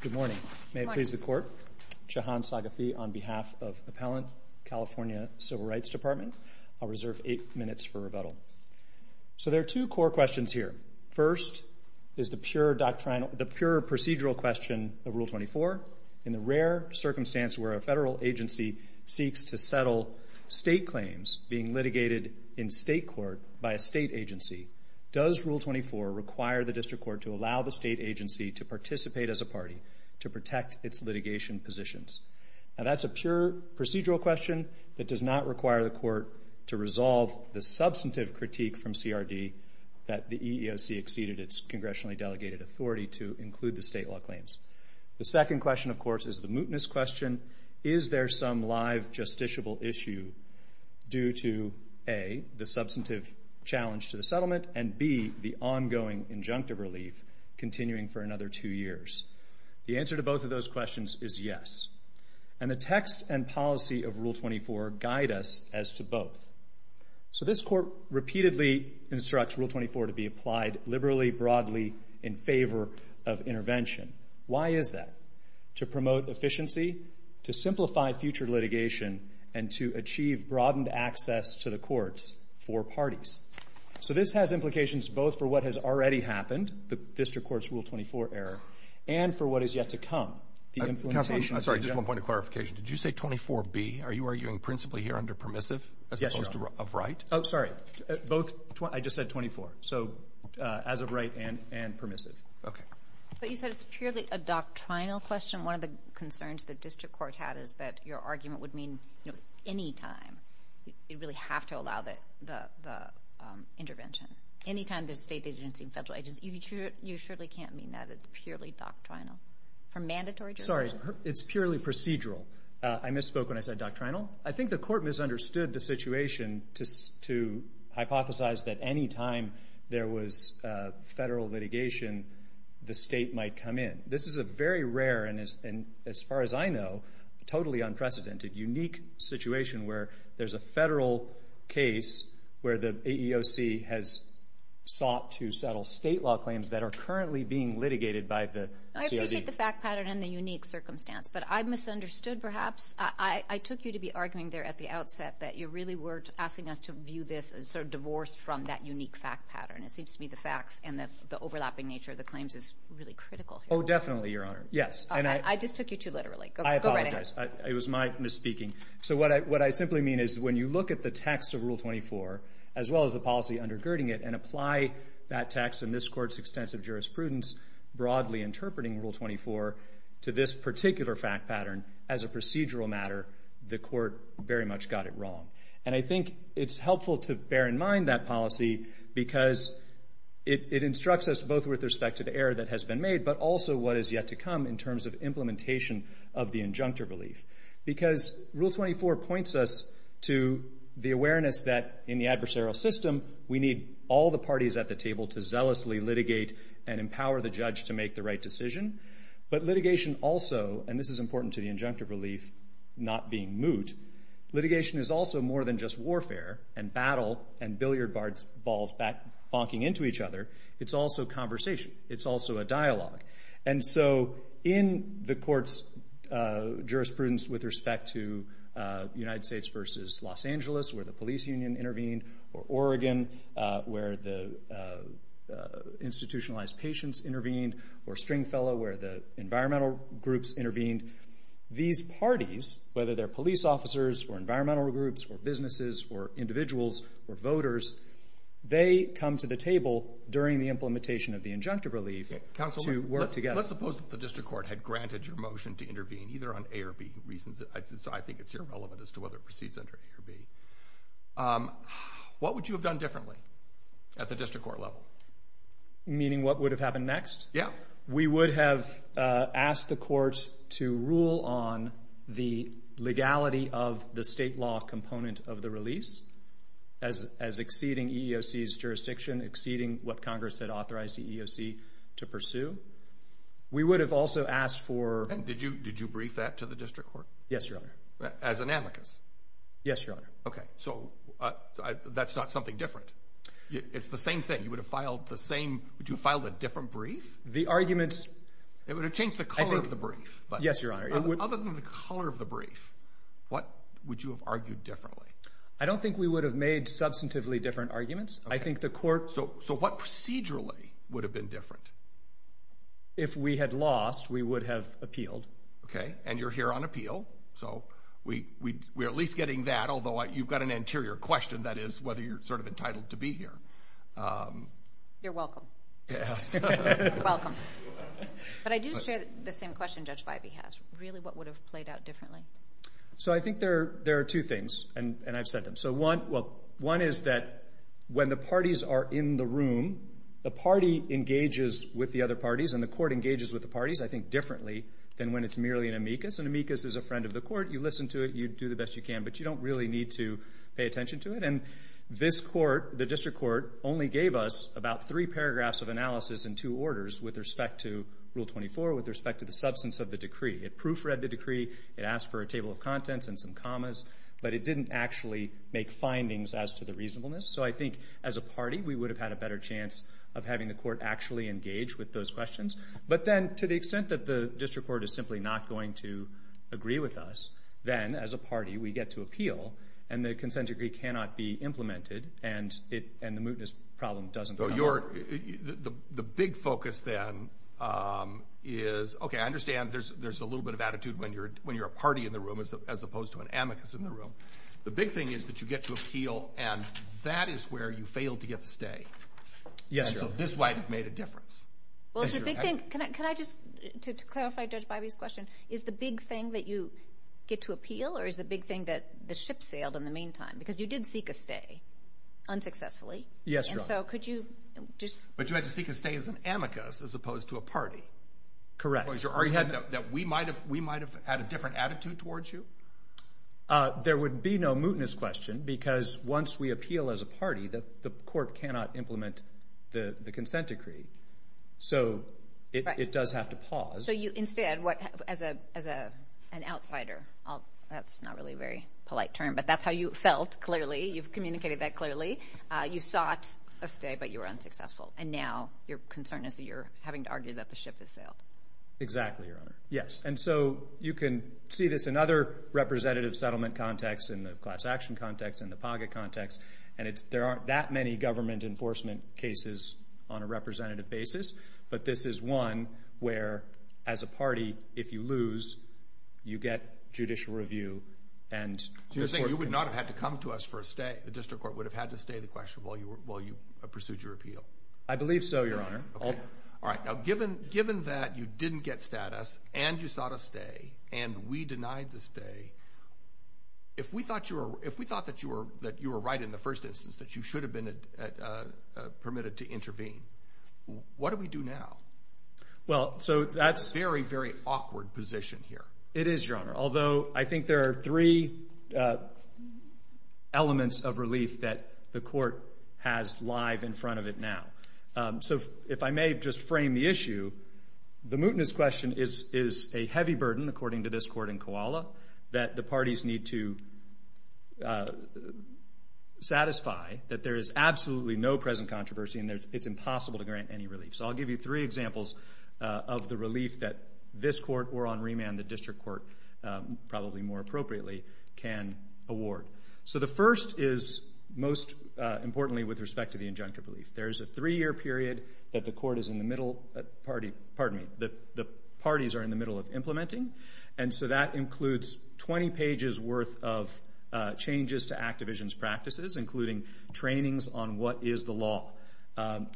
Good morning. May it please the Court. Shahan Saghafi on behalf of Appellant, California Civil Rights Department. I'll reserve eight minutes for rebuttal. So there are two core questions here. First is the pure procedural question of Rule 24. In the rare circumstance where a federal agency seeks to settle state claims being litigated in state court by a state agency, does Rule 24 require the district court to allow the state agency to participate as a party to protect its litigation positions? Now, that's a pure procedural question that does not require the court to resolve the substantive critique from CRD that the EEOC exceeded its congressionally delegated authority to include the state law claims. The second question, of course, is the mootness question. Is there some live justiciable issue due to A, the substantive challenge to the settlement, and B, the ongoing injunctive relief continuing for another two years? The answer to both of those questions is yes. And the text and policy of Rule 24 guide us as to both. So this Court repeatedly instructs Rule 24 to be applied liberally, broadly, in favor of intervention. Why is that? To promote efficiency, to simplify future litigation, and to achieve broadened access to the courts for parties. So this has implications both for what has already happened, the district court's Rule 24 error, and for what is yet to come. The implementation of the junk. I'm sorry. Just one point of clarification. Did you say 24B? Are you arguing principally here under permissive as opposed to of right? Yes, Your Honor. Oh, sorry. Both. I just said 24. So as of right and permissive. Okay. But you said it's purely a doctrinal question. One of the concerns the district court had is that your argument would mean, you know, any time you really have to allow the intervention. Any time there's state agency and federal agency. You surely can't mean that. It's purely doctrinal. Sorry. It's purely procedural. I misspoke when I said doctrinal. I think the Court misunderstood the situation to hypothesize that any time there was federal litigation, the state might come in. This is a very rare and, as far as I know, totally unprecedented, unique situation where there's a federal case where the AEOC has sought to settle state law claims that are currently being litigated by the COD. I appreciate the fact pattern and the unique circumstance, but I misunderstood perhaps. I took you to be arguing there at the outset that you really were asking us to view this as sort of divorced from that unique fact pattern. It seems to me the facts and the overlapping nature of the claims is really critical. Oh, definitely, Your Honor. Yes. I just took you too literally. Go right ahead. I apologize. It was my misspeaking. So what I simply mean is when you look at the text of Rule 24, as well as the policy undergirding it, and apply that text and this Court's extensive jurisprudence broadly interpreting Rule 24 to this particular fact pattern as a procedural matter, the Court very much got it wrong. And I think it's helpful to bear in mind that policy because it instructs us both with respect to the error that has been made, but also what is yet to come in terms of implementation of the injunctive relief. Because Rule 24 points us to the awareness that in the adversarial system, we need all the parties at the table to zealously litigate and empower the judge to make the right decision. But litigation also, and this is important to the injunctive relief not being moot, litigation is also more than just warfare and battle and billiard balls bonking into each other. It's also conversation. It's also a dialogue. And so in the Court's jurisprudence with respect to United States versus Los Angeles, where the police union intervened, or Oregon, where the institutionalized patients intervened, or Stringfellow, where the environmental groups intervened, these parties, whether they're police officers or environmental groups or businesses or individuals or voters, they come to the table during the implementation of the injunctive relief to work together. Let's suppose that the District Court had granted your motion to intervene either on A or B reasons. I think it's irrelevant as to whether it proceeds under A or B. What would you have done differently at the District Court level? Meaning what would have happened next? Yeah. We would have asked the courts to rule on the legality of the state law component of the release as exceeding EEOC's jurisdiction, exceeding what Congress had authorized the EEOC to pursue. We would have also asked for... And did you brief that to the District Court? Yes, Your Honor. As an amicus? Yes, Your Honor. Okay. So that's not something different. It's the same thing. You would have filed the same... Would you have filed a different brief? The arguments... It would have changed the color of the brief. Yes, Your Honor. Other than the color of the brief, what would you have argued differently? I don't think we would have made substantively different arguments. I think the court... So what procedurally would have been different? If we had lost, we would have appealed. Okay. And you're here on appeal. So we're at least getting that, although you've got an anterior question, that is whether you're sort of entitled to be here. You're welcome. Yes. Welcome. But I do share the same question Judge Vibey has. Really, what would have played out differently? So I think there are two things, and I've said them. One is that when the parties are in the room, the party engages with the other parties, and the court engages with the parties, I think, differently than when it's merely an amicus. An amicus is a friend of the court. You listen to it. You do the best you can, but you don't really need to pay attention to it. And this court, the district court, only gave us about three paragraphs of analysis in two orders with respect to Rule 24, with respect to the substance of the decree. It proofread the decree. It asked for a table of contents and some commas, but it didn't actually make findings as to the reasonableness. So I think, as a party, we would have had a better chance of having the court actually engage with those questions. But then, to the extent that the district court is simply not going to agree with us, then, as a party, we get to appeal, and the consent decree cannot be implemented, and the mootness problem doesn't occur. So the big focus, then, is, okay, I understand there's a little bit of attitude when you're a party in the room as opposed to an amicus in the room. The big thing is that you get to appeal, and that is where you fail to get the stay. Yes. So this might have made a difference. Well, it's a big thing. Can I just, to clarify Judge Bybee's question, is the big thing that you get to appeal, or is the big thing that the ship sailed in the meantime? Because you did seek a stay, unsuccessfully. Yes, Your Honor. So could you just? But you had to seek a stay as an amicus as opposed to a party. Correct. That we might have had a different attitude towards you? There would be no mootness question, because once we appeal as a party, the court cannot implement the consent decree. So it does have to pause. So instead, as an outsider, that's not really a very polite term, but that's how you felt, clearly. You've communicated that clearly. You sought a stay, but you were unsuccessful. And now your concern is that you're having to argue that the ship has sailed. Exactly, Your Honor. Yes. And so you can see this in other representative settlement contexts, in the class action context, in the pocket context, and there aren't that many government enforcement cases on a representative basis, but this is one where, as a party, if you lose, you get judicial review. You're saying you would not have had to come to us for a stay? The district court would have had to stay the question while you pursued your appeal? I believe so, Your Honor. All right. Now, given that you didn't get status and you sought a stay and we denied the stay, if we thought that you were right in the first instance, that you should have been permitted to intervene, what do we do now? Well, so that's very, very awkward position here. It is, Your Honor, although I think there are three elements of relief that the court has live in front of it now. So if I may just frame the issue, the mootness question is a heavy burden, according to this court in Koala, that the parties need to satisfy that there is absolutely no present controversy and it's impossible to grant any relief. So I'll give you three examples of the relief that this court or, on remand, the district court, probably more appropriately, can award. So the first is most importantly with respect to the injunctive relief. There is a three-year period that the parties are in the middle of implementing, and so that includes 20 pages worth of changes to Activision's practices, including trainings on what is the law.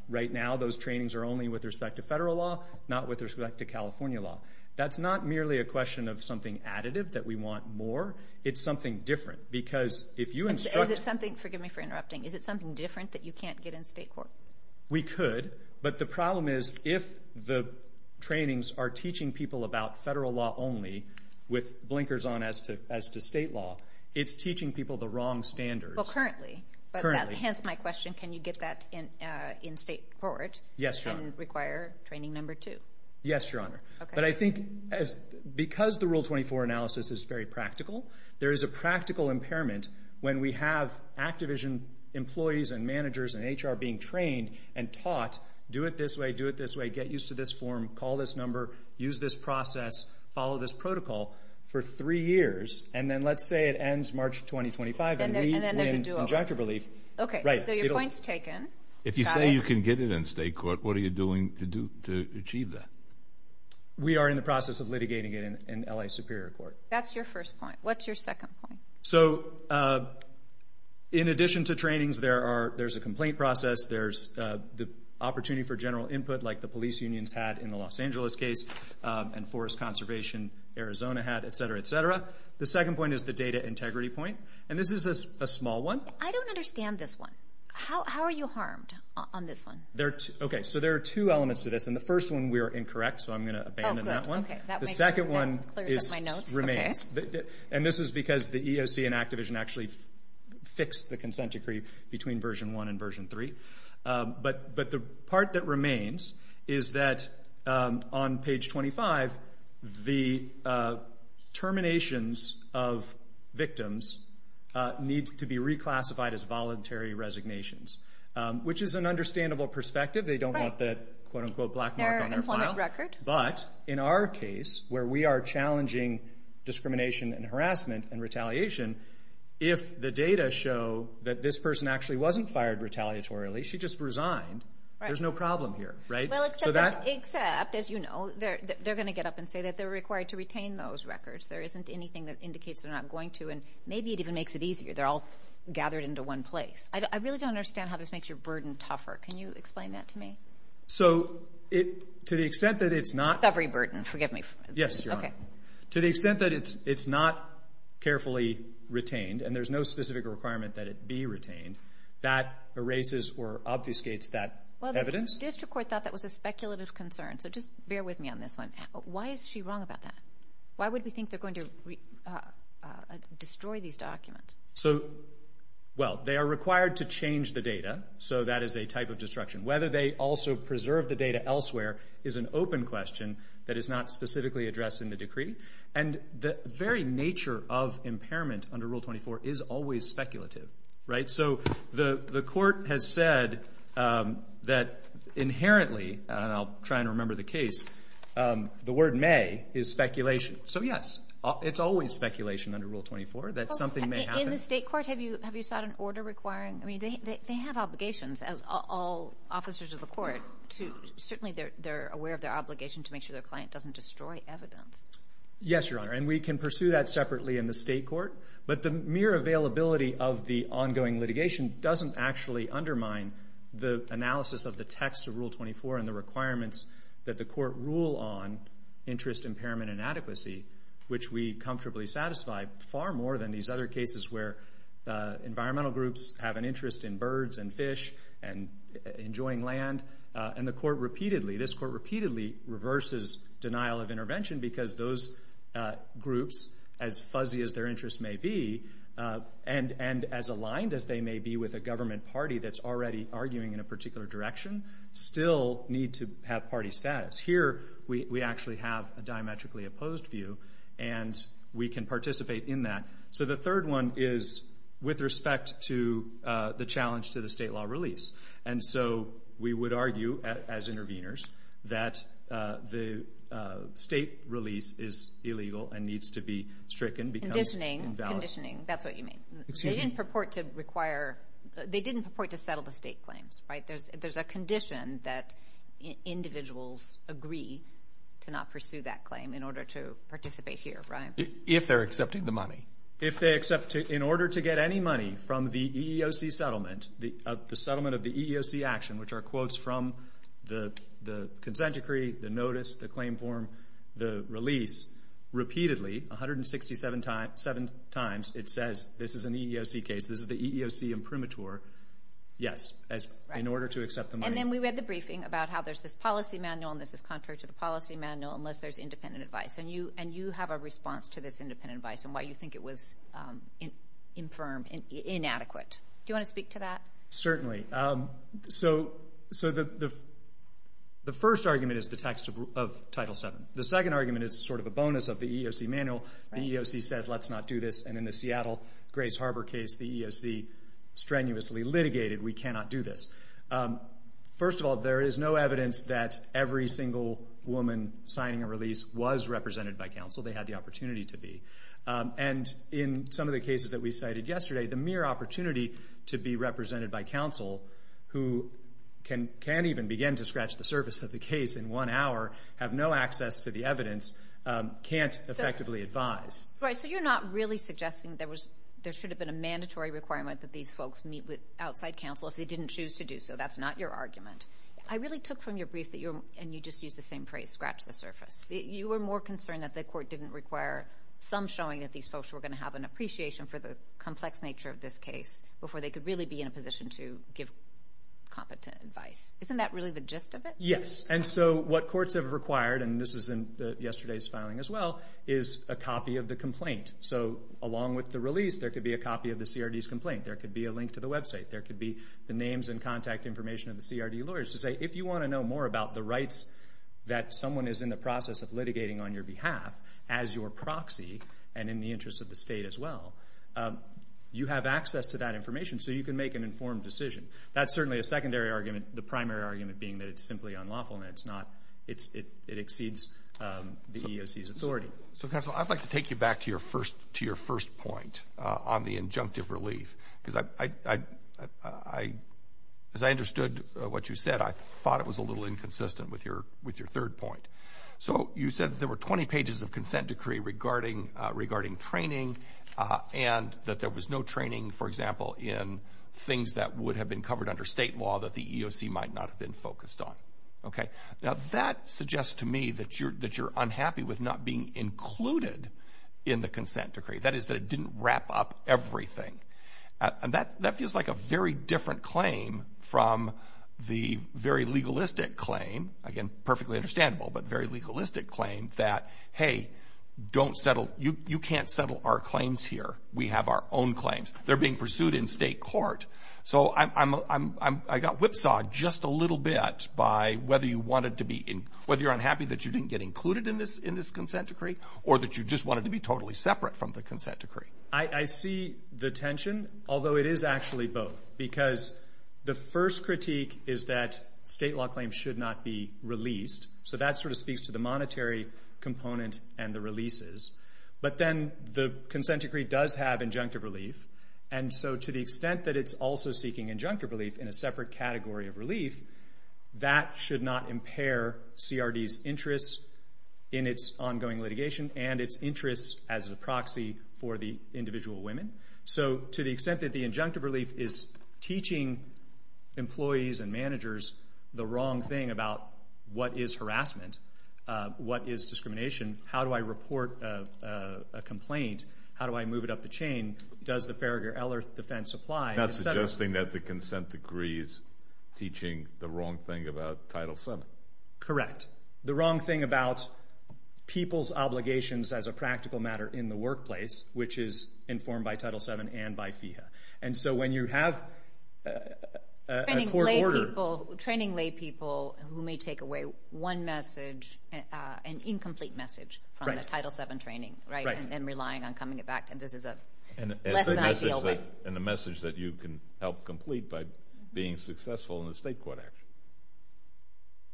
Right now, those trainings are only with respect to federal law, not with respect to California law. That's not merely a question of something additive that we want more. It's something different because if you instruct. Is it something different that you can't get in state court? We could, but the problem is if the trainings are teaching people about federal law only with blinkers on as to state law, it's teaching people the wrong standards. Well, currently. Currently. Hence my question, can you get that in state court and require training number two? Yes, Your Honor. But I think because the Rule 24 analysis is very practical, there is a practical impairment when we have Activision employees and managers and HR being trained and taught, do it this way, do it this way, get used to this form, call this number, use this process, follow this protocol for three years, and then let's say it ends March 2025 and we win injunctive relief. Okay, so your point's taken. If you say you can get it in state court, what are you doing to achieve that? We are in the process of litigating it in L.A. Superior Court. That's your first point. What's your second point? So in addition to trainings, there's a complaint process, there's the opportunity for general input like the police unions had in the Los Angeles case and Forest Conservation Arizona had, et cetera, et cetera. The second point is the data integrity point, and this is a small one. I don't understand this one. How are you harmed on this one? Okay, so there are two elements to this, and the first one we are incorrect, so I'm going to abandon that one. The second one remains, and this is because the EOC and Activision actually fixed the consent decree between Version 1 and Version 3. But the part that remains is that on page 25, the terminations of victims need to be reclassified as voluntary resignations, which is an understandable perspective. They don't want the, quote, unquote, black mark on their file. But in our case, where we are challenging discrimination and harassment and retaliation, if the data show that this person actually wasn't fired retaliatorily, she just resigned, there's no problem here, right? Except, as you know, they're going to get up and say that they're required to retain those records. There isn't anything that indicates they're not going to, and maybe it even makes it easier. They're all gathered into one place. I really don't understand how this makes your burden tougher. Can you explain that to me? So to the extent that it's not... Recovery burden, forgive me. Yes, Your Honor. Okay. To the extent that it's not carefully retained, and there's no specific requirement that it be retained, that erases or obfuscates that evidence. Well, the district court thought that was a speculative concern, so just bear with me on this one. Why is she wrong about that? Why would we think they're going to destroy these documents? So, well, they are required to change the data, so that is a type of destruction. Whether they also preserve the data elsewhere is an open question that is not specifically addressed in the decree. And the very nature of impairment under Rule 24 is always speculative, right? So the court has said that inherently, and I'll try and remember the case, the word may is speculation. So, yes, it's always speculation under Rule 24 that something may happen. In the state court, have you sought an order requiring? I mean, they have obligations, as all officers of the court. Certainly, they're aware of their obligation to make sure their client doesn't destroy evidence. Yes, Your Honor, and we can pursue that separately in the state court. But the mere availability of the ongoing litigation doesn't actually undermine the analysis of the text of Rule 24 and the requirements that the court rule on interest, impairment, and adequacy, which we comfortably satisfy far more than these other cases where environmental groups have an interest in birds and fish and enjoying land, and the court repeatedly, this court repeatedly reverses denial of intervention because those groups, as fuzzy as their interests may be, and as aligned as they may be with a government party that's already arguing in a particular direction, still need to have party status. Here, we actually have a diametrically opposed view, and we can participate in that. So the third one is with respect to the challenge to the state law release. And so we would argue, as interveners, that the state release is illegal and needs to be stricken. Conditioning, that's what you mean. They didn't purport to require, they didn't purport to settle the state claims, right? There's a condition that individuals agree to not pursue that claim in order to participate here, right? If they're accepting the money. If they accept, in order to get any money from the EEOC settlement, the settlement of the EEOC action, which are quotes from the consent decree, the notice, the claim form, the release, repeatedly, 167 times, it says this is an EEOC case, this is the EEOC imprimatur. Yes, in order to accept the money. And then we read the briefing about how there's this policy manual, and this is contrary to the policy manual unless there's independent advice. And you have a response to this independent advice and why you think it was infirm, inadequate. Do you want to speak to that? Certainly. So the first argument is the text of Title VII. The second argument is sort of a bonus of the EEOC manual. The EEOC says, let's not do this. And in the Seattle Grace Harbor case, the EEOC strenuously litigated, we cannot do this. First of all, there is no evidence that every single woman signing a release was represented by counsel. They had the opportunity to be. And in some of the cases that we cited yesterday, the mere opportunity to be represented by counsel, who can't even begin to scratch the surface of the case in one hour, have no access to the evidence, can't effectively advise. Right. So you're not really suggesting there should have been a mandatory requirement that these folks meet with outside counsel if they didn't choose to do so. That's not your argument. I really took from your brief that you're, and you just used the same phrase, scratch the surface. You were more concerned that the court didn't require some showing that these folks were going to have an appreciation for the complex nature of this case before they could really be in a position to give competent advice. Isn't that really the gist of it? Yes. And so what courts have required, and this is in yesterday's filing as well, is a copy of the complaint. So along with the release, there could be a copy of the CRD's complaint. There could be a link to the website. There could be the names and contact information of the CRD lawyers to say, if you want to know more about the rights that someone is in the process of litigating on your behalf as your proxy and in the interest of the state as well, you have access to that information so you can make an informed decision. That's certainly a secondary argument. The primary argument being that it's simply unlawful and it exceeds the EEOC's authority. Counsel, I'd like to take you back to your first point on the injunctive relief. As I understood what you said, I thought it was a little inconsistent with your third point. So you said that there were 20 pages of consent decree regarding training and that there was no training, for example, in things that would have been covered under state law that the EEOC might not have been focused on. Okay. Now, that suggests to me that you're unhappy with not being included in the consent decree, that is, that it didn't wrap up everything. And that feels like a very different claim from the very legalistic claim, again, perfectly understandable, but very legalistic claim that, hey, don't settle, you can't settle our claims here. We have our own claims. They're being pursued in state court. So I got whipsawed just a little bit by whether you wanted to be, whether you're unhappy that you didn't get included in this consent decree or that you just wanted to be totally separate from the consent decree. I see the tension, although it is actually both, because the first critique is that state law claims should not be released. So that sort of speaks to the monetary component and the releases. But then the consent decree does have injunctive relief, and so to the extent that it's also seeking injunctive relief in a separate category of relief, that should not impair CRD's interests in its ongoing litigation and its interests as a proxy for the individual women. So to the extent that the injunctive relief is teaching employees and managers the wrong thing about what is harassment, what is discrimination, how do I report a complaint, how do I move it up the chain, does the Farragher-Ellert defense apply? You're not suggesting that the consent decree is teaching the wrong thing about Title VII. Correct. The wrong thing about people's obligations as a practical matter in the workplace, which is informed by Title VII and by FEHA. And so when you have a court order. Training laypeople who may take away one message, an incomplete message, from the Title VII training, right, and then relying on coming it back, and this is a lesson I deal with. And a message that you can help complete by being successful in the state court action.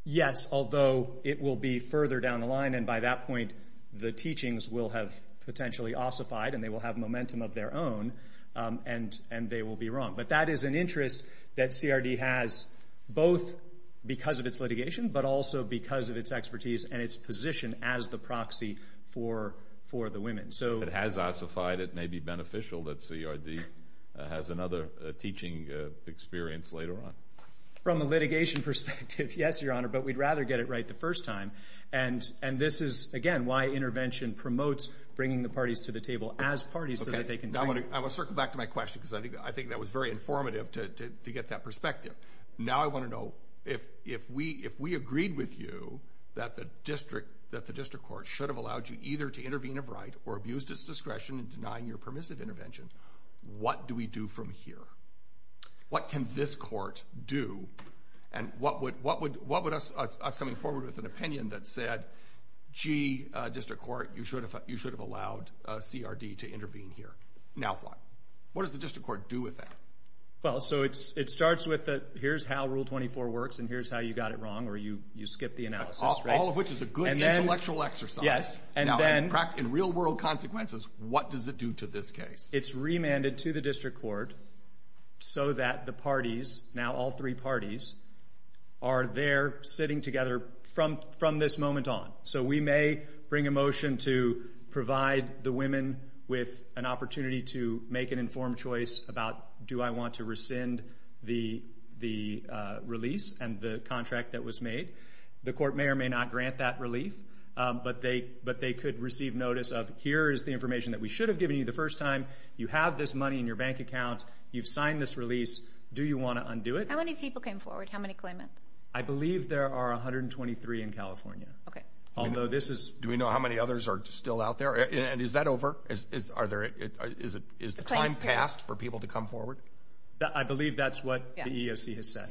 Yes, although it will be further down the line, and by that point the teachings will have potentially ossified and they will have momentum of their own, and they will be wrong. But that is an interest that CRD has both because of its litigation but also because of its expertise and its position as the proxy for the women. If it has ossified, it may be beneficial that CRD has another teaching experience later on. From a litigation perspective, yes, Your Honor, but we'd rather get it right the first time. And this is, again, why intervention promotes bringing the parties to the table as parties so that they can train. I want to circle back to my question because I think that was very informative to get that perspective. Now I want to know if we agreed with you that the district court should have allowed you either to intervene of right or abused its discretion in denying your permissive intervention, what do we do from here? What can this court do? And what would us coming forward with an opinion that said, gee, district court, you should have allowed CRD to intervene here. Now what? What does the district court do with that? Well, so it starts with here's how Rule 24 works and here's how you got it wrong or you skipped the analysis. All of which is a good intellectual exercise. Yes. Now, in real-world consequences, what does it do to this case? It's remanded to the district court so that the parties, now all three parties, are there sitting together from this moment on. So we may bring a motion to provide the women with an opportunity to make an informed choice about do I want to rescind the release and the contract that was made. But they could receive notice of here is the information that we should have given you the first time. You have this money in your bank account. You've signed this release. Do you want to undo it? How many people came forward? How many claimants? I believe there are 123 in California. Okay. Although this is... Do we know how many others are still out there? And is that over? Is the time passed for people to come forward? So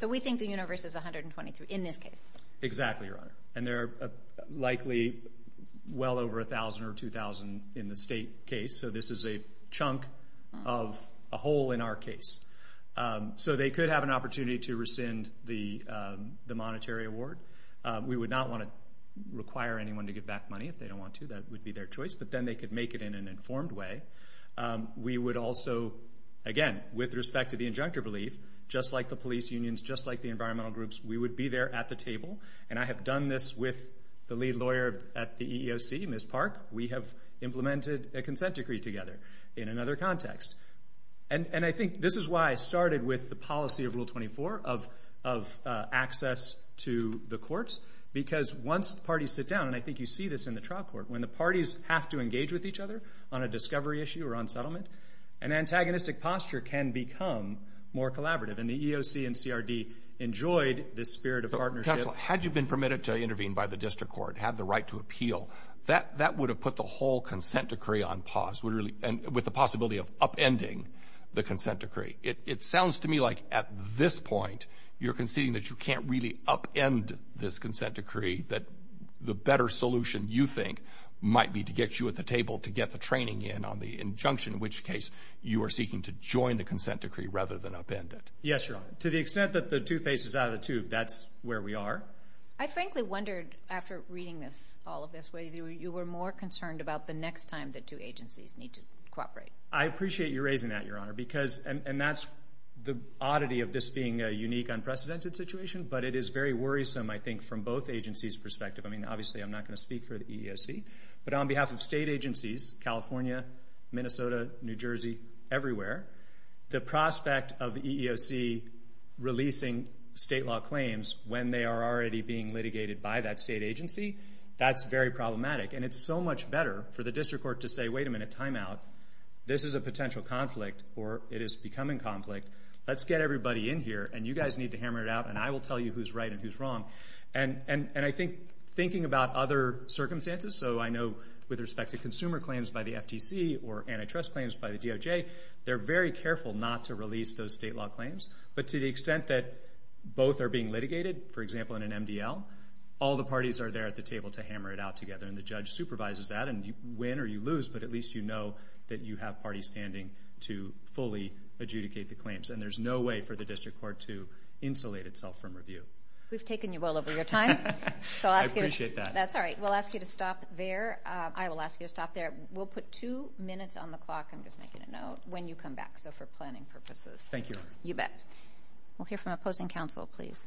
we think the universe is 123 in this case. Exactly, Your Honor. And there are likely well over 1,000 or 2,000 in the state case. So this is a chunk of a hole in our case. So they could have an opportunity to rescind the monetary award. We would not want to require anyone to give back money if they don't want to. That would be their choice. But then they could make it in an informed way. We would also, again, with respect to the injunctive relief, just like the police unions, just like the environmental groups, we would be there at the table. And I have done this with the lead lawyer at the EEOC, Ms. Park. We have implemented a consent decree together in another context. And I think this is why I started with the policy of Rule 24 of access to the courts. Because once parties sit down, and I think you see this in the trial court, when the parties have to engage with each other on a discovery issue or on settlement, an antagonistic posture can become more collaborative. Counsel, had you been permitted to intervene by the district court, had the right to appeal, that would have put the whole consent decree on pause with the possibility of upending the consent decree. It sounds to me like at this point you're conceding that you can't really upend this consent decree, that the better solution, you think, might be to get you at the table to get the training in on the injunction, in which case you are seeking to join the consent decree rather than upend it. Yes, Your Honor. To the extent that the toothpaste is out of the tube, that's where we are. I frankly wondered, after reading all of this, whether you were more concerned about the next time the two agencies need to cooperate. I appreciate you raising that, Your Honor. And that's the oddity of this being a unique, unprecedented situation, but it is very worrisome, I think, from both agencies' perspective. I mean, obviously I'm not going to speak for the EEOC, but on behalf of state agencies, California, Minnesota, New Jersey, everywhere, the prospect of the EEOC releasing state law claims when they are already being litigated by that state agency, that's very problematic. And it's so much better for the district court to say, wait a minute, time out. This is a potential conflict, or it is becoming conflict. Let's get everybody in here, and you guys need to hammer it out, and I will tell you who's right and who's wrong. And I think thinking about other circumstances, so I know with respect to consumer claims by the FTC or antitrust claims by the DOJ, they're very careful not to release those state law claims. But to the extent that both are being litigated, for example, in an MDL, all the parties are there at the table to hammer it out together, and the judge supervises that, and you win or you lose, but at least you know that you have parties standing to fully adjudicate the claims. And there's no way for the district court to insulate itself from review. We've taken you well over your time. I appreciate that. That's all right. We'll ask you to stop there. I will ask you to stop there. We'll put two minutes on the clock. I'm just making a note. When you come back, so for planning purposes. Thank you. You bet. We'll hear from opposing counsel, please.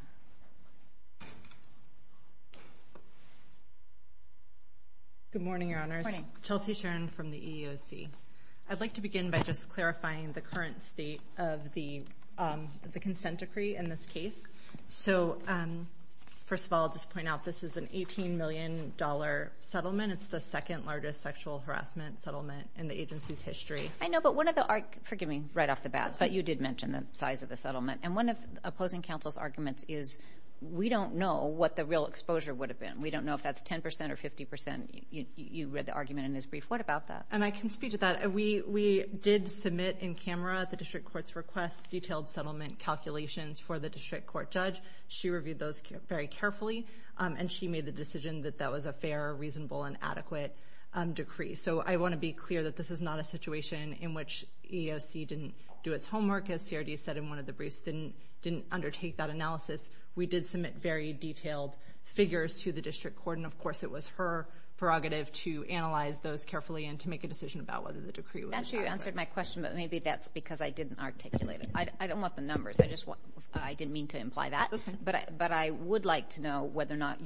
Good morning, Your Honors. Chelsea Sharon from the EEOC. I'd like to begin by just clarifying the current state of the consent decree in this case. So first of all, I'll just point out this is an $18 million settlement. It's the second largest sexual harassment settlement in the agency's history. I know, but one of the arguments, forgive me, right off the bat, but you did mention the size of the settlement. And one of opposing counsel's arguments is we don't know what the real exposure would have been. We don't know if that's 10% or 50%. You read the argument in his brief. What about that? And I can speak to that. We did submit in camera the district court's request, detailed settlement calculations for the district court judge. She reviewed those very carefully, and she made the decision that that was a fair, reasonable, and adequate decree. So I want to be clear that this is not a situation in which EEOC didn't do its homework, as TRD said in one of the briefs, didn't undertake that analysis. We did submit very detailed figures to the district court, and, of course, it was her prerogative to analyze those carefully and to make a decision about whether the decree was valid. Actually, you answered my question, but maybe that's because I didn't articulate it. I don't want the numbers. I didn't mean to imply that. That's fine. But I would like to know whether or not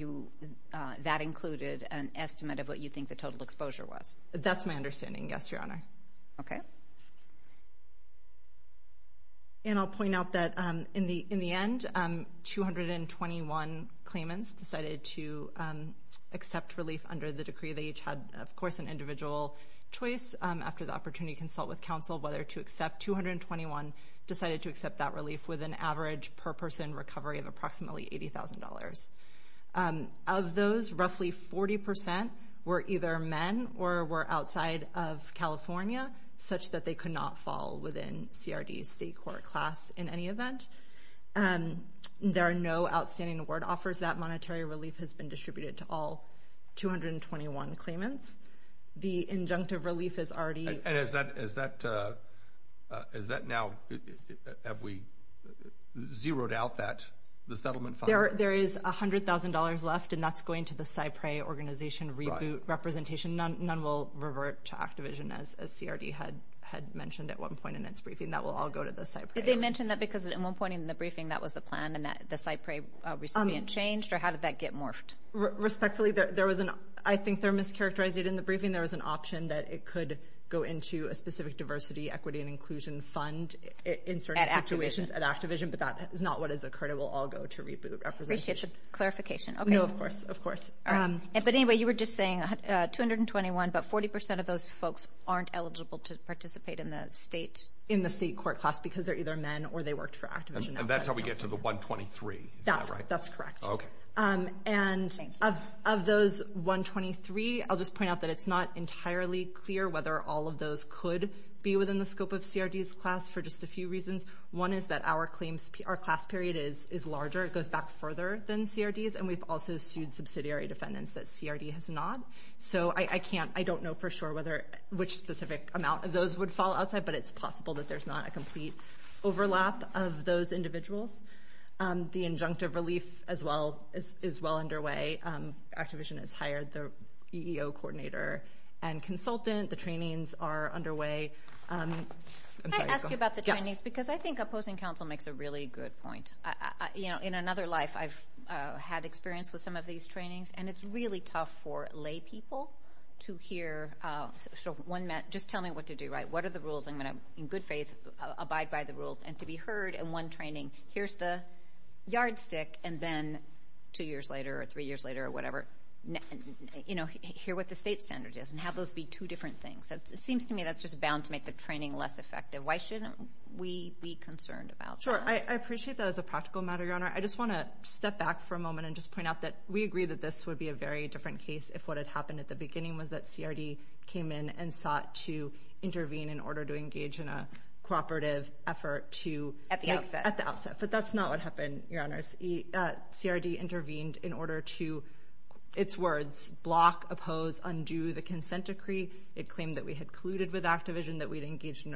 that included an estimate of what you think the total exposure was. That's my understanding, yes, Your Honor. Okay. And I'll point out that in the end, 221 claimants decided to accept relief under the decree. They each had, of course, an individual choice. After the opportunity to consult with counsel whether to accept, 221 decided to accept that relief with an average per-person recovery of approximately $80,000. Of those, roughly 40% were either men or were outside of California, such that they could not fall within TRD's state court class in any event. There are no outstanding award offers. That monetary relief has been distributed to all 221 claimants. The injunctive relief is already- And is that now, have we zeroed out that, the settlement fund? There is $100,000 left, and that's going to the CyPRAE organization reboot representation. None will revert to Activision, as CRD had mentioned at one point in its briefing. That will all go to the CyPRAE. Did they mention that because at one point in the briefing, that was the plan, and the CyPRAE recipient changed, or how did that get morphed? Respectfully, I think they're mischaracterized. In the briefing, there was an option that it could go into a specific diversity, equity, and inclusion fund in certain situations at Activision, but that is not what has occurred. It will all go to reboot representation. I appreciate the clarification. No, of course, of course. But anyway, you were just saying 221, but 40% of those folks aren't eligible to participate in the state- In the state court class because they're either men or they worked for Activision. And that's how we get to the 123. That's correct. Okay. Of those 123, I'll just point out that it's not entirely clear whether all of those could be within the scope of CRD's class for just a few reasons. One is that our class period is larger. It goes back further than CRD's, and we've also sued subsidiary defendants that CRD has not. So I don't know for sure which specific amount of those would fall outside, but it's possible that there's not a complete overlap of those individuals. The injunctive relief is well underway. Activision has hired the EEO coordinator and consultant. The trainings are underway. I'm sorry. Can I ask you about the trainings? Yes. Because I think opposing counsel makes a really good point. In another life, I've had experience with some of these trainings, and it's really tough for lay people to hear, just tell me what to do, right? What are the rules? I'm going to, in good faith, abide by the rules. And to be heard in one training, here's the yardstick, and then two years later or three years later or whatever, you know, hear what the state standard is and have those be two different things. It seems to me that's just bound to make the training less effective. Why shouldn't we be concerned about that? Sure. I appreciate that as a practical matter, Your Honor. I just want to step back for a moment and just point out that we agree that this would be a very different case in a cooperative effort to... At the outset. At the outset. But that's not what happened, Your Honors. CRD intervened in order to, its words, block, oppose, undo the consent decree. It claimed that we had colluded with Activision, that we had engaged in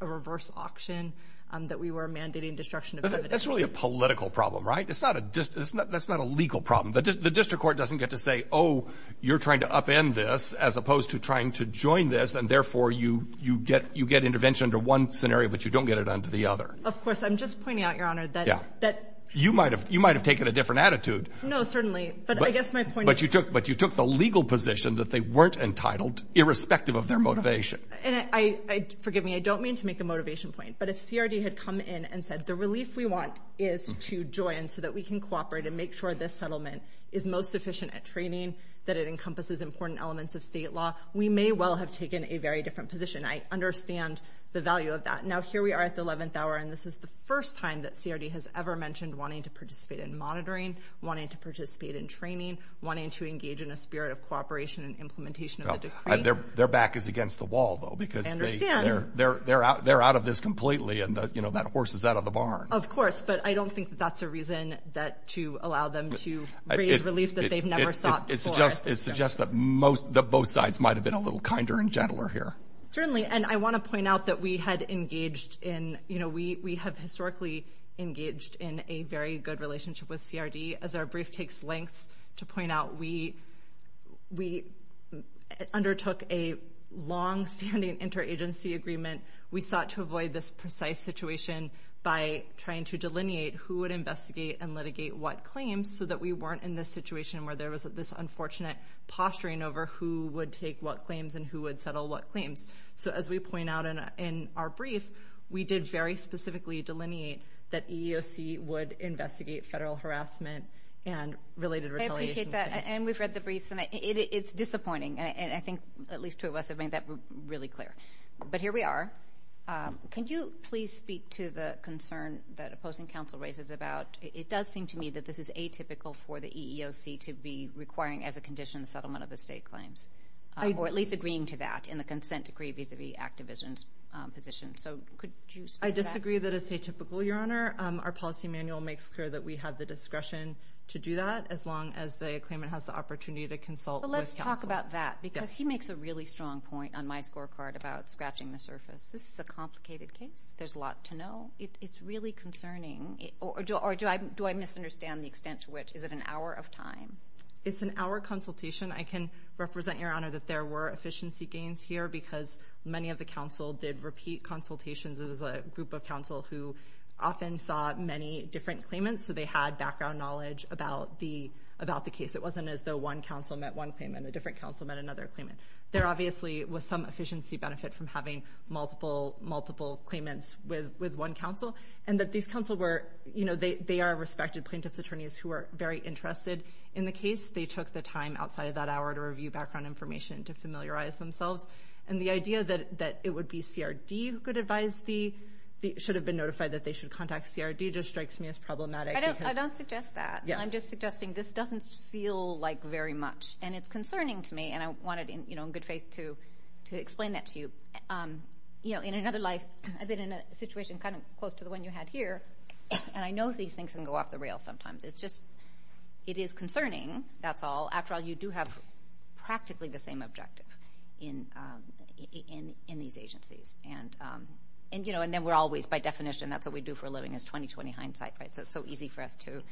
a reverse auction, that we were mandating destruction of evidence. That's really a political problem, right? That's not a legal problem. The district court doesn't get to say, oh, you're trying to upend this as opposed to trying to join this, and therefore you get intervention under one scenario but you don't get it under the other. Of course. I'm just pointing out, Your Honor, that... Yeah. ...that... You might have taken a different attitude. No, certainly. But I guess my point is... But you took the legal position that they weren't entitled irrespective of their motivation. And I, forgive me, I don't mean to make a motivation point, but if CRD had come in and said the relief we want is to join so that we can cooperate and make sure this settlement is most sufficient at training, that it encompasses important elements of state law, we may well have taken a very different position. I understand the value of that. Now, here we are at the 11th hour, and this is the first time that CRD has ever mentioned wanting to participate in monitoring, wanting to participate in training, wanting to engage in a spirit of cooperation and implementation of the decree. Their back is against the wall, though, because... I understand. ...they're out of this completely, and, you know, that horse is out of the barn. Of course. But I don't think that that's a reason to allow them to raise relief that they've never sought before. It suggests that both sides might have been a little kinder and gentler here. Certainly, and I want to point out that we had engaged in, you know, we have historically engaged in a very good relationship with CRD. As our brief takes length to point out, we undertook a longstanding interagency agreement. We sought to avoid this precise situation by trying to delineate who would investigate and litigate what claims so that we weren't in this situation where there was this unfortunate posturing over who would take what claims and who would settle what claims. So as we point out in our brief, we did very specifically delineate that EEOC would investigate federal harassment and related retaliation claims. I appreciate that, and we've read the briefs, and it's disappointing, and I think at least two of us have made that really clear. But here we are. Can you please speak to the concern that opposing counsel raises about it does seem to me that this is atypical for the EEOC to be requiring as a condition the settlement of the state claims, or at least agreeing to that in the consent decree vis-à-vis Activision's position. So could you speak to that? I disagree that it's atypical, Your Honor. Our policy manual makes clear that we have the discretion to do that as long as the claimant has the opportunity to consult with counsel. But let's talk about that because he makes a really strong point on my scorecard about scratching the surface. This is a complicated case. There's a lot to know. It's really concerning. Or do I misunderstand the extent to which? Is it an hour of time? It's an hour consultation. I can represent, Your Honor, that there were efficiency gains here because many of the counsel did repeat consultations. It was a group of counsel who often saw many different claimants, so they had background knowledge about the case. It wasn't as though one counsel met one claimant, a different counsel met another claimant. There obviously was some efficiency benefit from having multiple claimants with one counsel, and that these counsel were, you know, they are respected plaintiff's attorneys who are very interested in the case. They took the time outside of that hour to review background information and to familiarize themselves. And the idea that it would be CRD who could advise the, should have been notified that they should contact CRD just strikes me as problematic. I don't suggest that. I'm just suggesting this doesn't feel like very much, and it's concerning to me, and I wanted, you know, in good faith to explain that to you. You know, in another life, I've been in a situation kind of close to the one you had here, and I know these things can go off the rails sometimes. It's just it is concerning, that's all. After all, you do have practically the same objective in these agencies. And, you know, and then we're always, by definition, that's what we do for a living is 20-20 hindsight, right? So it's so easy for us to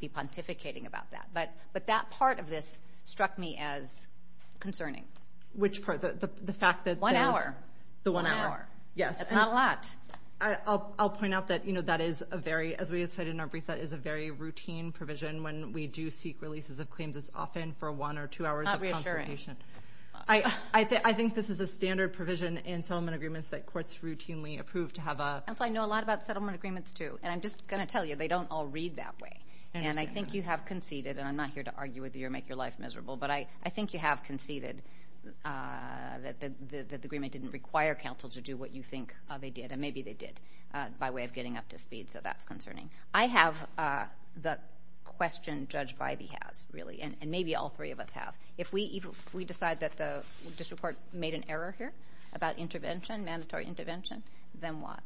be pontificating about that. But that part of this struck me as concerning. Which part? The fact that there's. One hour. The one hour. One hour. Yes. That's not a lot. I'll point out that, you know, that is a very, as we had said in our brief, that is a very routine provision when we do seek releases of claims as often for one or two hours of consultation. Not reassuring. I think this is a standard provision in settlement agreements that courts routinely approve to have a... I know a lot about settlement agreements, too. And I'm just going to tell you, they don't all read that way. And I think you have conceded, and I'm not here to argue with you or make your life miserable, but I think you have conceded that the agreement didn't require counsel to do what you think they did, and maybe they did by way of getting up to speed. So that's concerning. I have the question Judge Bybee has, really, and maybe all three of us have. If we decide that the district court made an error here about intervention, mandatory intervention, then what?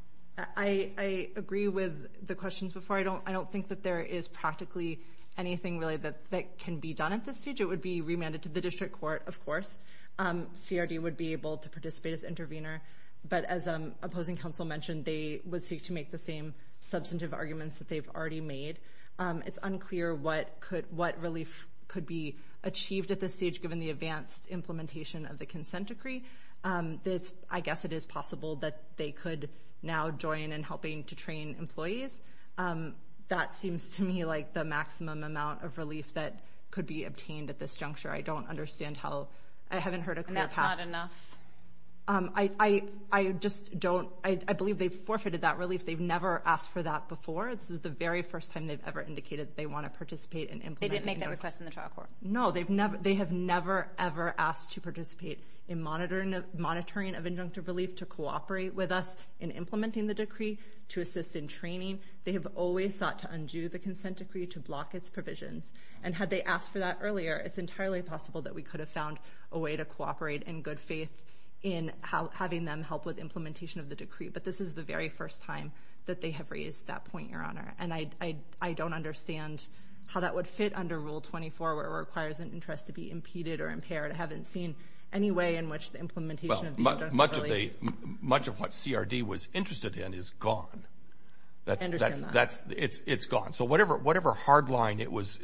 I agree with the questions before. I don't think that there is practically anything really that can be done at this stage. It would be remanded to the district court, of course. CRD would be able to participate as intervener. But as opposing counsel mentioned, they would seek to make the same substantive arguments that they've already made. It's unclear what relief could be achieved at this stage, given the advanced implementation of the consent decree. I guess it is possible that they could now join in helping to train employees. That seems to me like the maximum amount of relief that could be obtained at this juncture. I don't understand how. I haven't heard a clear path. And that's not enough? I just don't. I believe they've forfeited that relief. They've never asked for that before. This is the very first time they've ever indicated that they want to participate and implement it. They didn't make that request in the trial court? No. They have never, ever asked to participate in monitoring of injunctive relief, to cooperate with us in implementing the decree, to assist in training. They have always sought to undo the consent decree to block its provisions. And had they asked for that earlier, it's entirely possible that we could have found a way to cooperate in good faith in having them help with implementation of the decree. But this is the very first time that they have raised that point, Your Honor. And I don't understand how that would fit under Rule 24, where it requires an interest to be impeded or impaired. I haven't seen any way in which the implementation of the injunctive relief much of what CRD was interested in is gone. I understand that. It's gone. So whatever hard line it was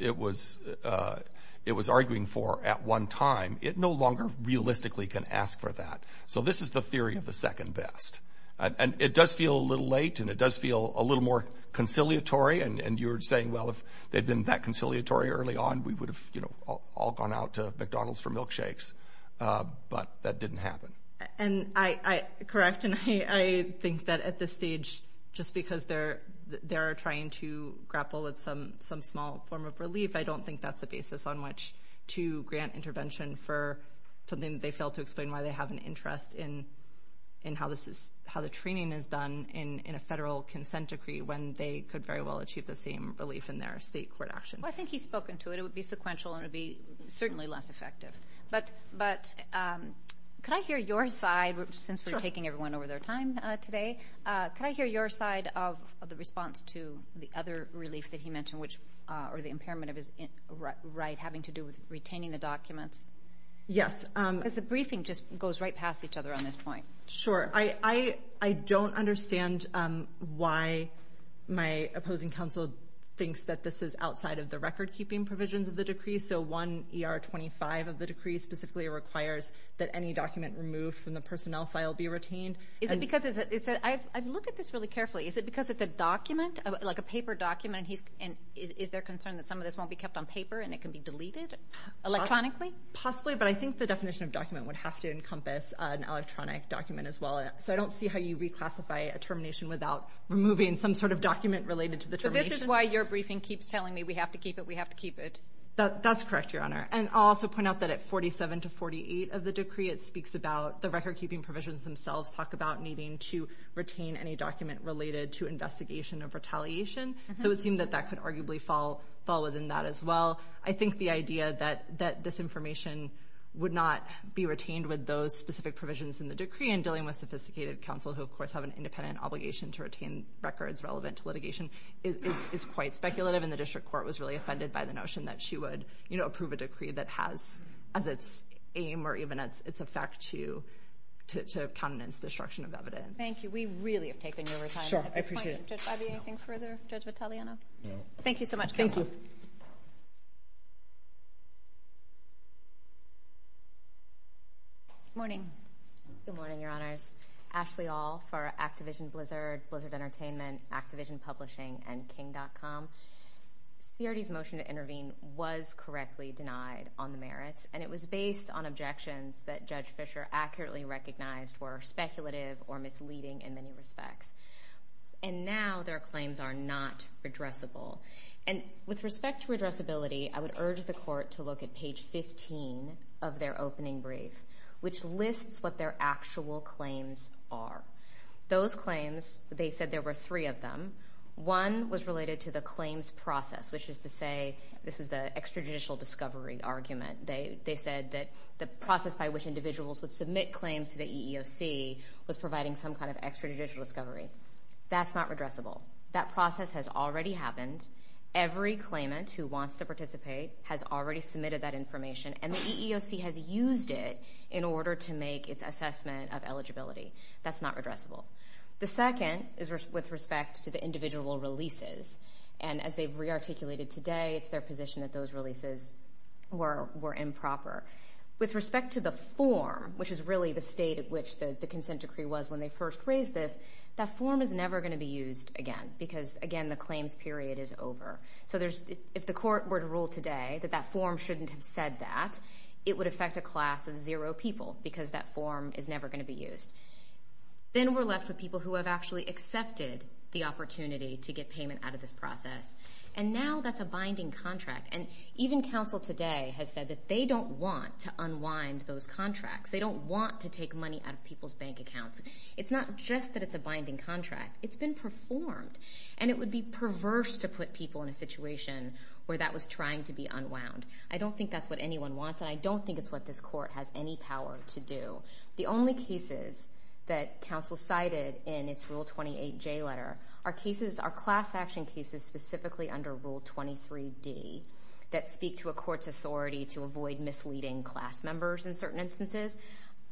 arguing for at one time, it no longer realistically can ask for that. So this is the theory of the second best. And it does feel a little late, and it does feel a little more conciliatory. And you were saying, well, if they'd been that conciliatory early on, we would have all gone out to McDonald's for milkshakes. But that didn't happen. Correct. And I think that at this stage, just because they're trying to grapple with some small form of relief, I don't think that's a basis on which to grant intervention for something that they failed to explain why they have an interest in how the training is done in a federal consent decree when they could very well achieve the same relief in their state court action. Well, I think he's spoken to it. It would be sequential, and it would be certainly less effective. But could I hear your side, since we're taking everyone over their time today, could I hear your side of the response to the other relief that he mentioned, or the impairment of his right having to do with retaining the documents? Yes. Because the briefing just goes right past each other on this point. Sure. I don't understand why my opposing counsel thinks that this is outside of the record-keeping provisions of the decree. So 1 ER 25 of the decree specifically requires that any document removed from the personnel file be retained. Is it because it's a document, like a paper document, and is there concern that some of this won't be kept on paper and it can be deleted electronically? Possibly. But I think the definition of document would have to encompass an electronic document as well. So I don't see how you reclassify a termination without removing some sort of document related to the termination. So this is why your briefing keeps telling me we have to keep it, we have to keep it. That's correct, Your Honor. And I'll also point out that at 47 to 48 of the decree, it speaks about the record-keeping provisions themselves talk about needing to retain any document related to investigation of retaliation. So it seemed that that could arguably fall within that as well. I think the idea that this information would not be retained with those specific provisions in the decree and dealing with sophisticated counsel who, of course, have an independent obligation to retain records relevant to litigation is quite speculative, and the District Court was really offended by the notion that she would, you know, approve a decree that has as its aim or even as its effect to countenance destruction of evidence. Thank you. We really have taken your time at this point. Sure, I appreciate it. Judge Bivey, anything further? Judge Vitaliano? No. Thank you so much. Thank you. Good morning. Good morning, Your Honors. Ashley Aul for Activision Blizzard, Blizzard Entertainment, Activision Publishing, and King.com. CRD's motion to intervene was correctly denied on the merits, and it was based on objections that Judge Fischer accurately recognized were speculative or misleading in many respects. And now their claims are not redressable. And with respect to redressability, I would urge the Court to look at page 15 of their opening brief, which lists what their actual claims are. Those claims, they said there were three of them. One was related to the claims process, which is to say this is the extrajudicial discovery argument. They said that the process by which individuals would submit claims to the EEOC was providing some kind of extrajudicial discovery. That's not redressable. That process has already happened. Every claimant who wants to participate has already submitted that information, and the EEOC has used it in order to make its assessment of eligibility. That's not redressable. The second is with respect to the individual releases. And as they've rearticulated today, it's their position that those releases were improper. With respect to the form, which is really the state at which the consent decree was when they first raised this, that form is never going to be used again because, again, the claims period is over. So if the court were to rule today that that form shouldn't have said that, it would affect a class of zero people because that form is never going to be used. Then we're left with people who have actually accepted the opportunity to get payment out of this process. And now that's a binding contract. And even counsel today has said that they don't want to unwind those contracts. They don't want to take money out of people's bank accounts. It's not just that it's a binding contract. It's been performed. And it would be perverse to put people in a situation where that was trying to be unwound. I don't think that's what anyone wants, and I don't think it's what this court has any power to do. The only cases that counsel cited in its Rule 28J letter are class action cases specifically under Rule 23D that speak to a court's authority to avoid misleading class members in certain instances.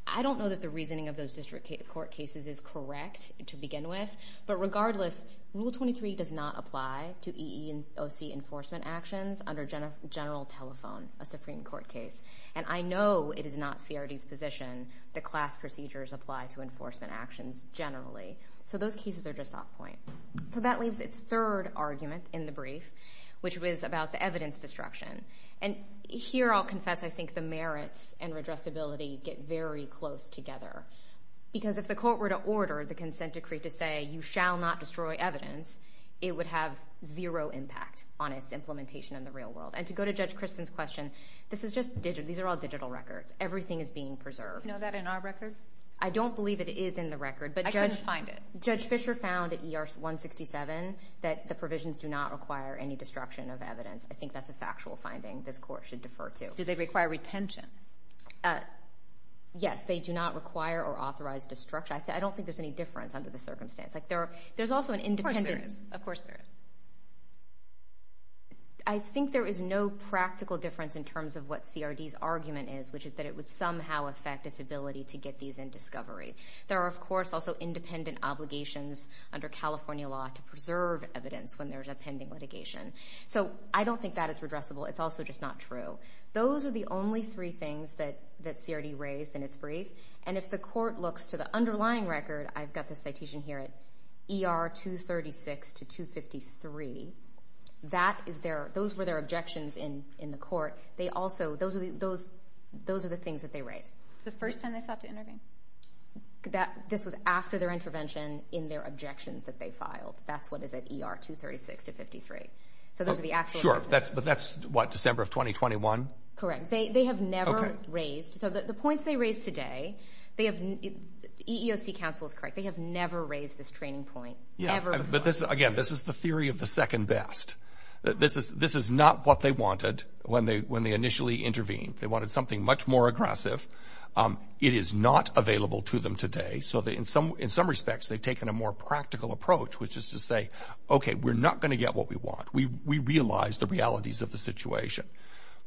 I don't know that the reasoning of those district court cases is correct to begin with. But regardless, Rule 23 does not apply to EEOC enforcement actions under general telephone, a Supreme Court case. And I know it is not CRD's position that class procedures apply to enforcement actions generally. So those cases are just off point. So that leaves its third argument in the brief, which was about the evidence destruction. And here I'll confess I think the merits and redressability get very close together because if the court were to order the consent decree to say you shall not destroy evidence, it would have zero impact on its implementation in the real world. And to go to Judge Kristen's question, these are all digital records. Everything is being preserved. Do you know that in our record? I don't believe it is in the record. I couldn't find it. Judge Fisher found at ER 167 that the provisions do not require any destruction of evidence. I think that's a factual finding this court should defer to. Do they require retention? Yes. They do not require or authorize destruction. I don't think there's any difference under the circumstance. There's also an independent. Of course there is. I think there is no practical difference in terms of what CRD's argument is, which is that it would somehow affect its ability to get these in discovery. There are, of course, also independent obligations under California law to preserve evidence when there's a pending litigation. So I don't think that is redressable. It's also just not true. Those are the only three things that CRD raised in its brief. And if the court looks to the underlying record, I've got the citation here at ER 236 to 253. Those were their objections in the court. Those are the things that they raised. The first time they sought to intervene? This was after their intervention in their objections that they filed. That's what is at ER 236 to 253. Sure, but that's, what, December of 2021? Correct. They have never raised. So the points they raised today, EEOC counsel is correct. They have never raised this training point ever before. Again, this is the theory of the second best. This is not what they wanted when they initially intervened. They wanted something much more aggressive. It is not available to them today. So in some respects, they've taken a more practical approach, which is to say, okay, we're not going to get what we want. We realize the realities of the situation.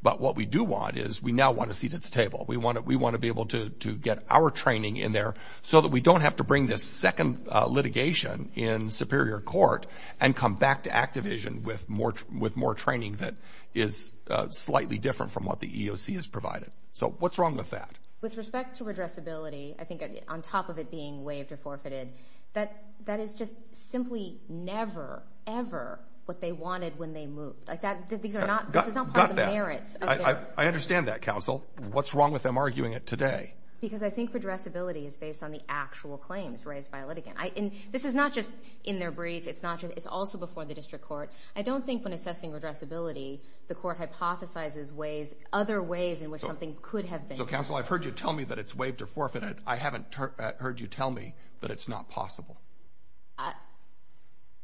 But what we do want is we now want a seat at the table. We want to be able to get our training in there so that we don't have to bring this second litigation in superior court and come back to Activision with more training that is slightly different from what the EEOC has provided. So what's wrong with that? With respect to redressability, I think on top of it being waived or forfeited, that is just simply never, ever what they wanted when they moved. These are not part of the merits. I understand that, counsel. What's wrong with them arguing it today? Because I think redressability is based on the actual claims raised by a litigant. This is not just in their brief. It's also before the district court. I don't think when assessing redressability, the court hypothesizes other ways in which something could have been. Counsel, I've heard you tell me that it's waived or forfeited. I haven't heard you tell me that it's not possible.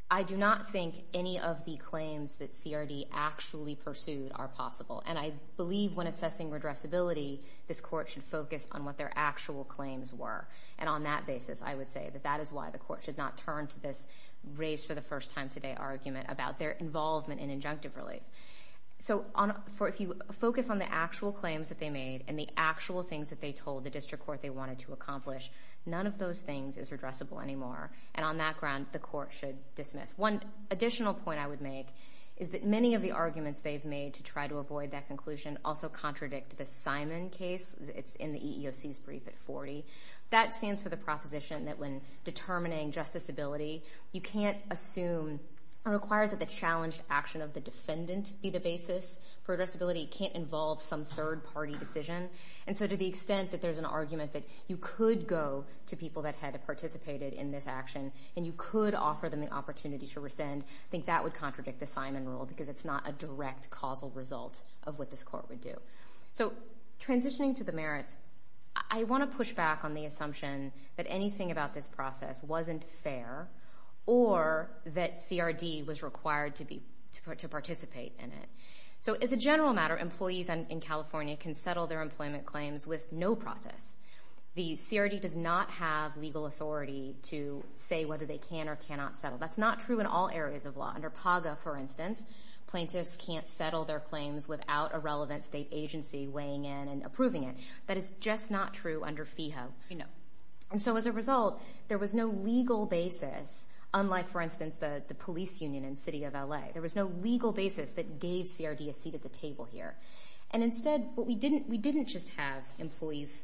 I do not think any of the claims that CRD actually pursued are possible. And I believe when assessing redressability, this court should focus on what their actual claims were. And on that basis, I would say that that is why the court should not turn to this raised-for-the-first-time-today argument about their involvement in injunctive relief. So if you focus on the actual claims that they made and the actual things that they told the district court they wanted to accomplish, none of those things is redressable anymore. And on that ground, the court should dismiss. One additional point I would make is that many of the arguments they've made to try to avoid that conclusion also contradict the Simon case. It's in the EEOC's brief at 40. That stands for the proposition that when determining justiceability, you can't assume or requires that the challenged action of the defendant be the basis for redressability. It can't involve some third-party decision. And so to the extent that there's an argument that you could go to people that had participated in this action and you could offer them the opportunity to rescind, I think that would contradict the Simon rule because it's not a direct causal result of what this court would do. So transitioning to the merits, I want to push back on the assumption that anything about this process wasn't fair or that CRD was required to participate in it. So as a general matter, employees in California can settle their employment claims with no process. The CRD does not have legal authority to say whether they can or cannot settle. That's not true in all areas of law. Under PAGA, for instance, plaintiffs can't settle their claims without a relevant state agency weighing in and approving it. That is just not true under FEHA. And so as a result, there was no legal basis, unlike, for instance, the police union in the city of L.A. There was no legal basis that gave CRD a seat at the table here. And instead, we didn't just have employees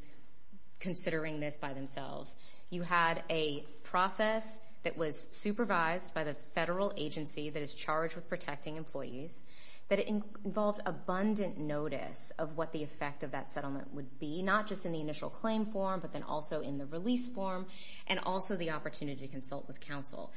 considering this by themselves. You had a process that was supervised by the federal agency that is charged with protecting employees, that involved abundant notice of what the effect of that settlement would be, not just in the initial claim form but then also in the release form, and also the opportunity to consult with counsel.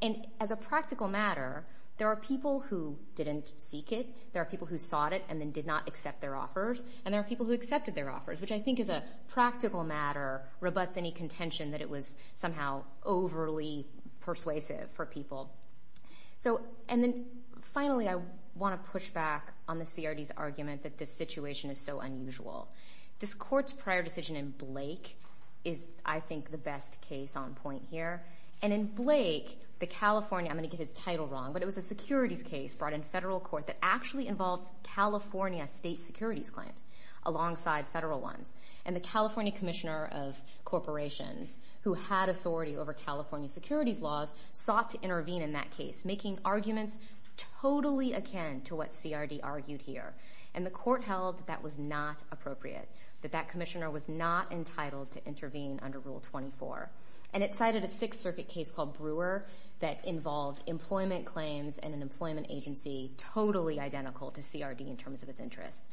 And as a practical matter, there are people who didn't seek it, there are people who sought it and then did not accept their offers, and there are people who accepted their offers, which I think as a practical matter rebuts any contention that it was somehow overly persuasive for people. And then finally, I want to push back on the CRD's argument that this situation is so unusual. This court's prior decision in Blake is, I think, the best case on point here. And in Blake, the California, I'm going to get his title wrong, but it was a securities case brought in federal court that actually involved California state securities claims alongside federal ones. And the California Commissioner of Corporations, who had authority over California securities laws, sought to intervene in that case, making arguments totally akin to what CRD argued here. And the court held that that was not appropriate, that that commissioner was not entitled to intervene under Rule 24. And it cited a Sixth Circuit case called Brewer that involved employment claims and an employment agency totally identical to CRD in terms of its interests.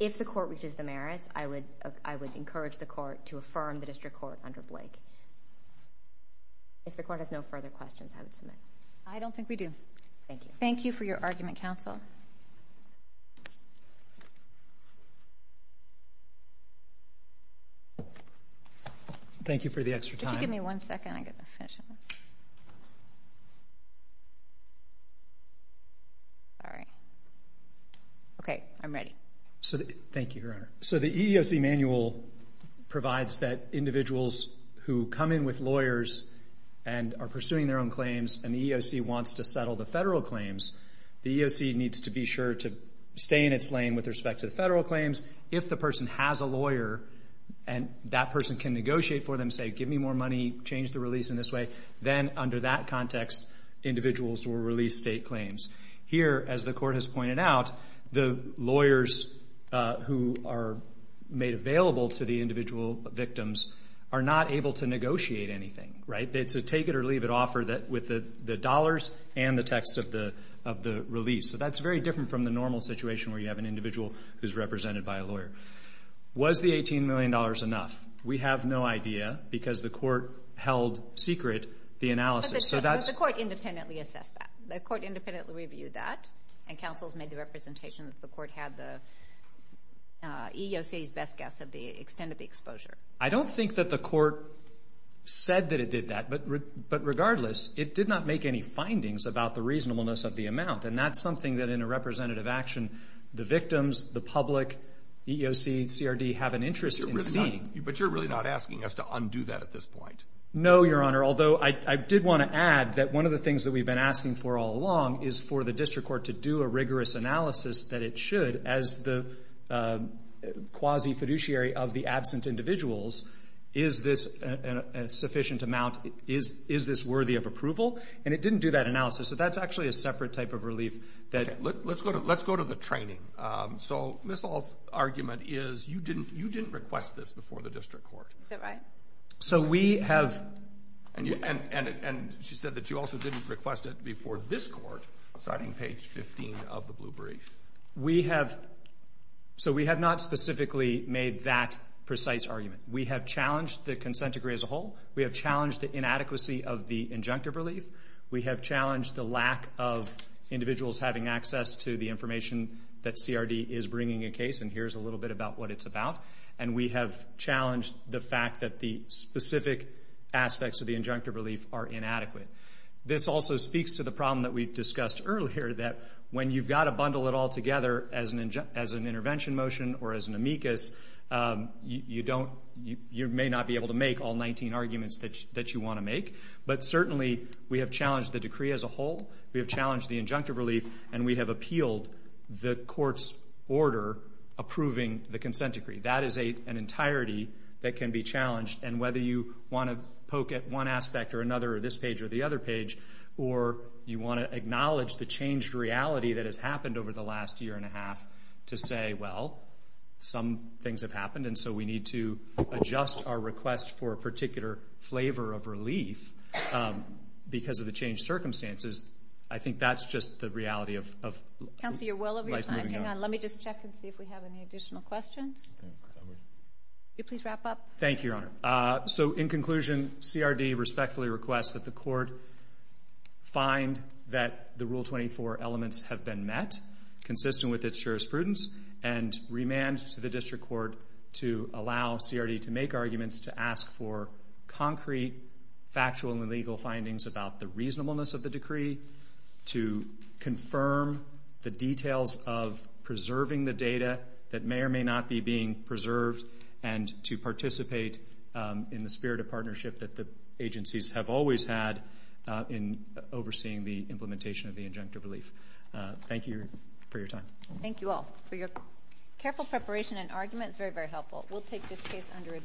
If the court reaches the merits, I would encourage the court to affirm the district court under Blake. If the court has no further questions, I would submit. I don't think we do. Thank you. Thank you for your argument, counsel. Thank you for the extra time. Could you give me one second? I'm going to finish up. Okay, I'm ready. Thank you, Your Honor. So the EEOC manual provides that individuals who come in with lawyers and are pursuing their own claims and the EEOC wants to settle the federal claims, the EEOC needs to be sure to stay in its lane with respect to the federal claims. If the person has a lawyer and that person can negotiate for them, say, give me more money, change the release in this way, then under that context individuals will release state claims. Here, as the court has pointed out, the lawyers who are made available to the individual victims are not able to negotiate anything, right? It's a take-it-or-leave-it offer with the dollars and the text of the release. So that's very different from the normal situation where you have an individual who's represented by a lawyer. Was the $18 million enough? We have no idea because the court held secret the analysis. But the court independently assessed that. The court independently reviewed that. And counsels made the representation that the court had the EEOC's best guess of the extent of the exposure. I don't think that the court said that it did that. But regardless, it did not make any findings about the reasonableness of the amount. And that's something that in a representative action the victims, the public, EEOC, CRD have an interest in seeing. But you're really not asking us to undo that at this point? No, Your Honor. Although I did want to add that one of the things that we've been asking for all along is for the district court to do a rigorous analysis that it should as the quasi-fiduciary of the absent individuals. Is this a sufficient amount? Is this worthy of approval? And it didn't do that analysis. So that's actually a separate type of relief. Let's go to the training. So Ms. Hall's argument is you didn't request this before the district court. Is that right? So we have. And she said that you also didn't request it before this court, citing page 15 of the blue brief. We have. So we have not specifically made that precise argument. We have challenged the consent decree as a whole. We have challenged the inadequacy of the injunctive relief. We have challenged the lack of individuals having access to the information that CRD is bringing a case, and here's a little bit about what it's about. And we have challenged the fact that the specific aspects of the injunctive relief are inadequate. This also speaks to the problem that we discussed earlier, that when you've got to bundle it all together as an intervention motion or as an amicus, you may not be able to make all 19 arguments that you want to make, but certainly we have challenged the decree as a whole. We have challenged the injunctive relief, and we have appealed the court's order approving the consent decree. That is an entirety that can be challenged, and whether you want to poke at one aspect or another or this page or the other page or you want to acknowledge the changed reality that has happened over the last year and a half to say, well, some things have happened and so we need to adjust our request for a particular flavor of relief because of the changed circumstances, I think that's just the reality of life moving on. Let me just check and see if we have any additional questions. Could you please wrap up? Thank you, Your Honor. So in conclusion, CRD respectfully requests that the court find that the Rule 24 elements have been met, consistent with its jurisprudence, and remand to the district court to allow CRD to make arguments to ask for concrete factual and legal findings about the reasonableness of the decree, to confirm the details of preserving the data that may or may not be being preserved, and to participate in the spirit of partnership that the agencies have always had in overseeing the implementation of the injunctive relief. Thank you for your time. Thank you all for your careful preparation and argument. It's very, very helpful. We'll take this case under advisement.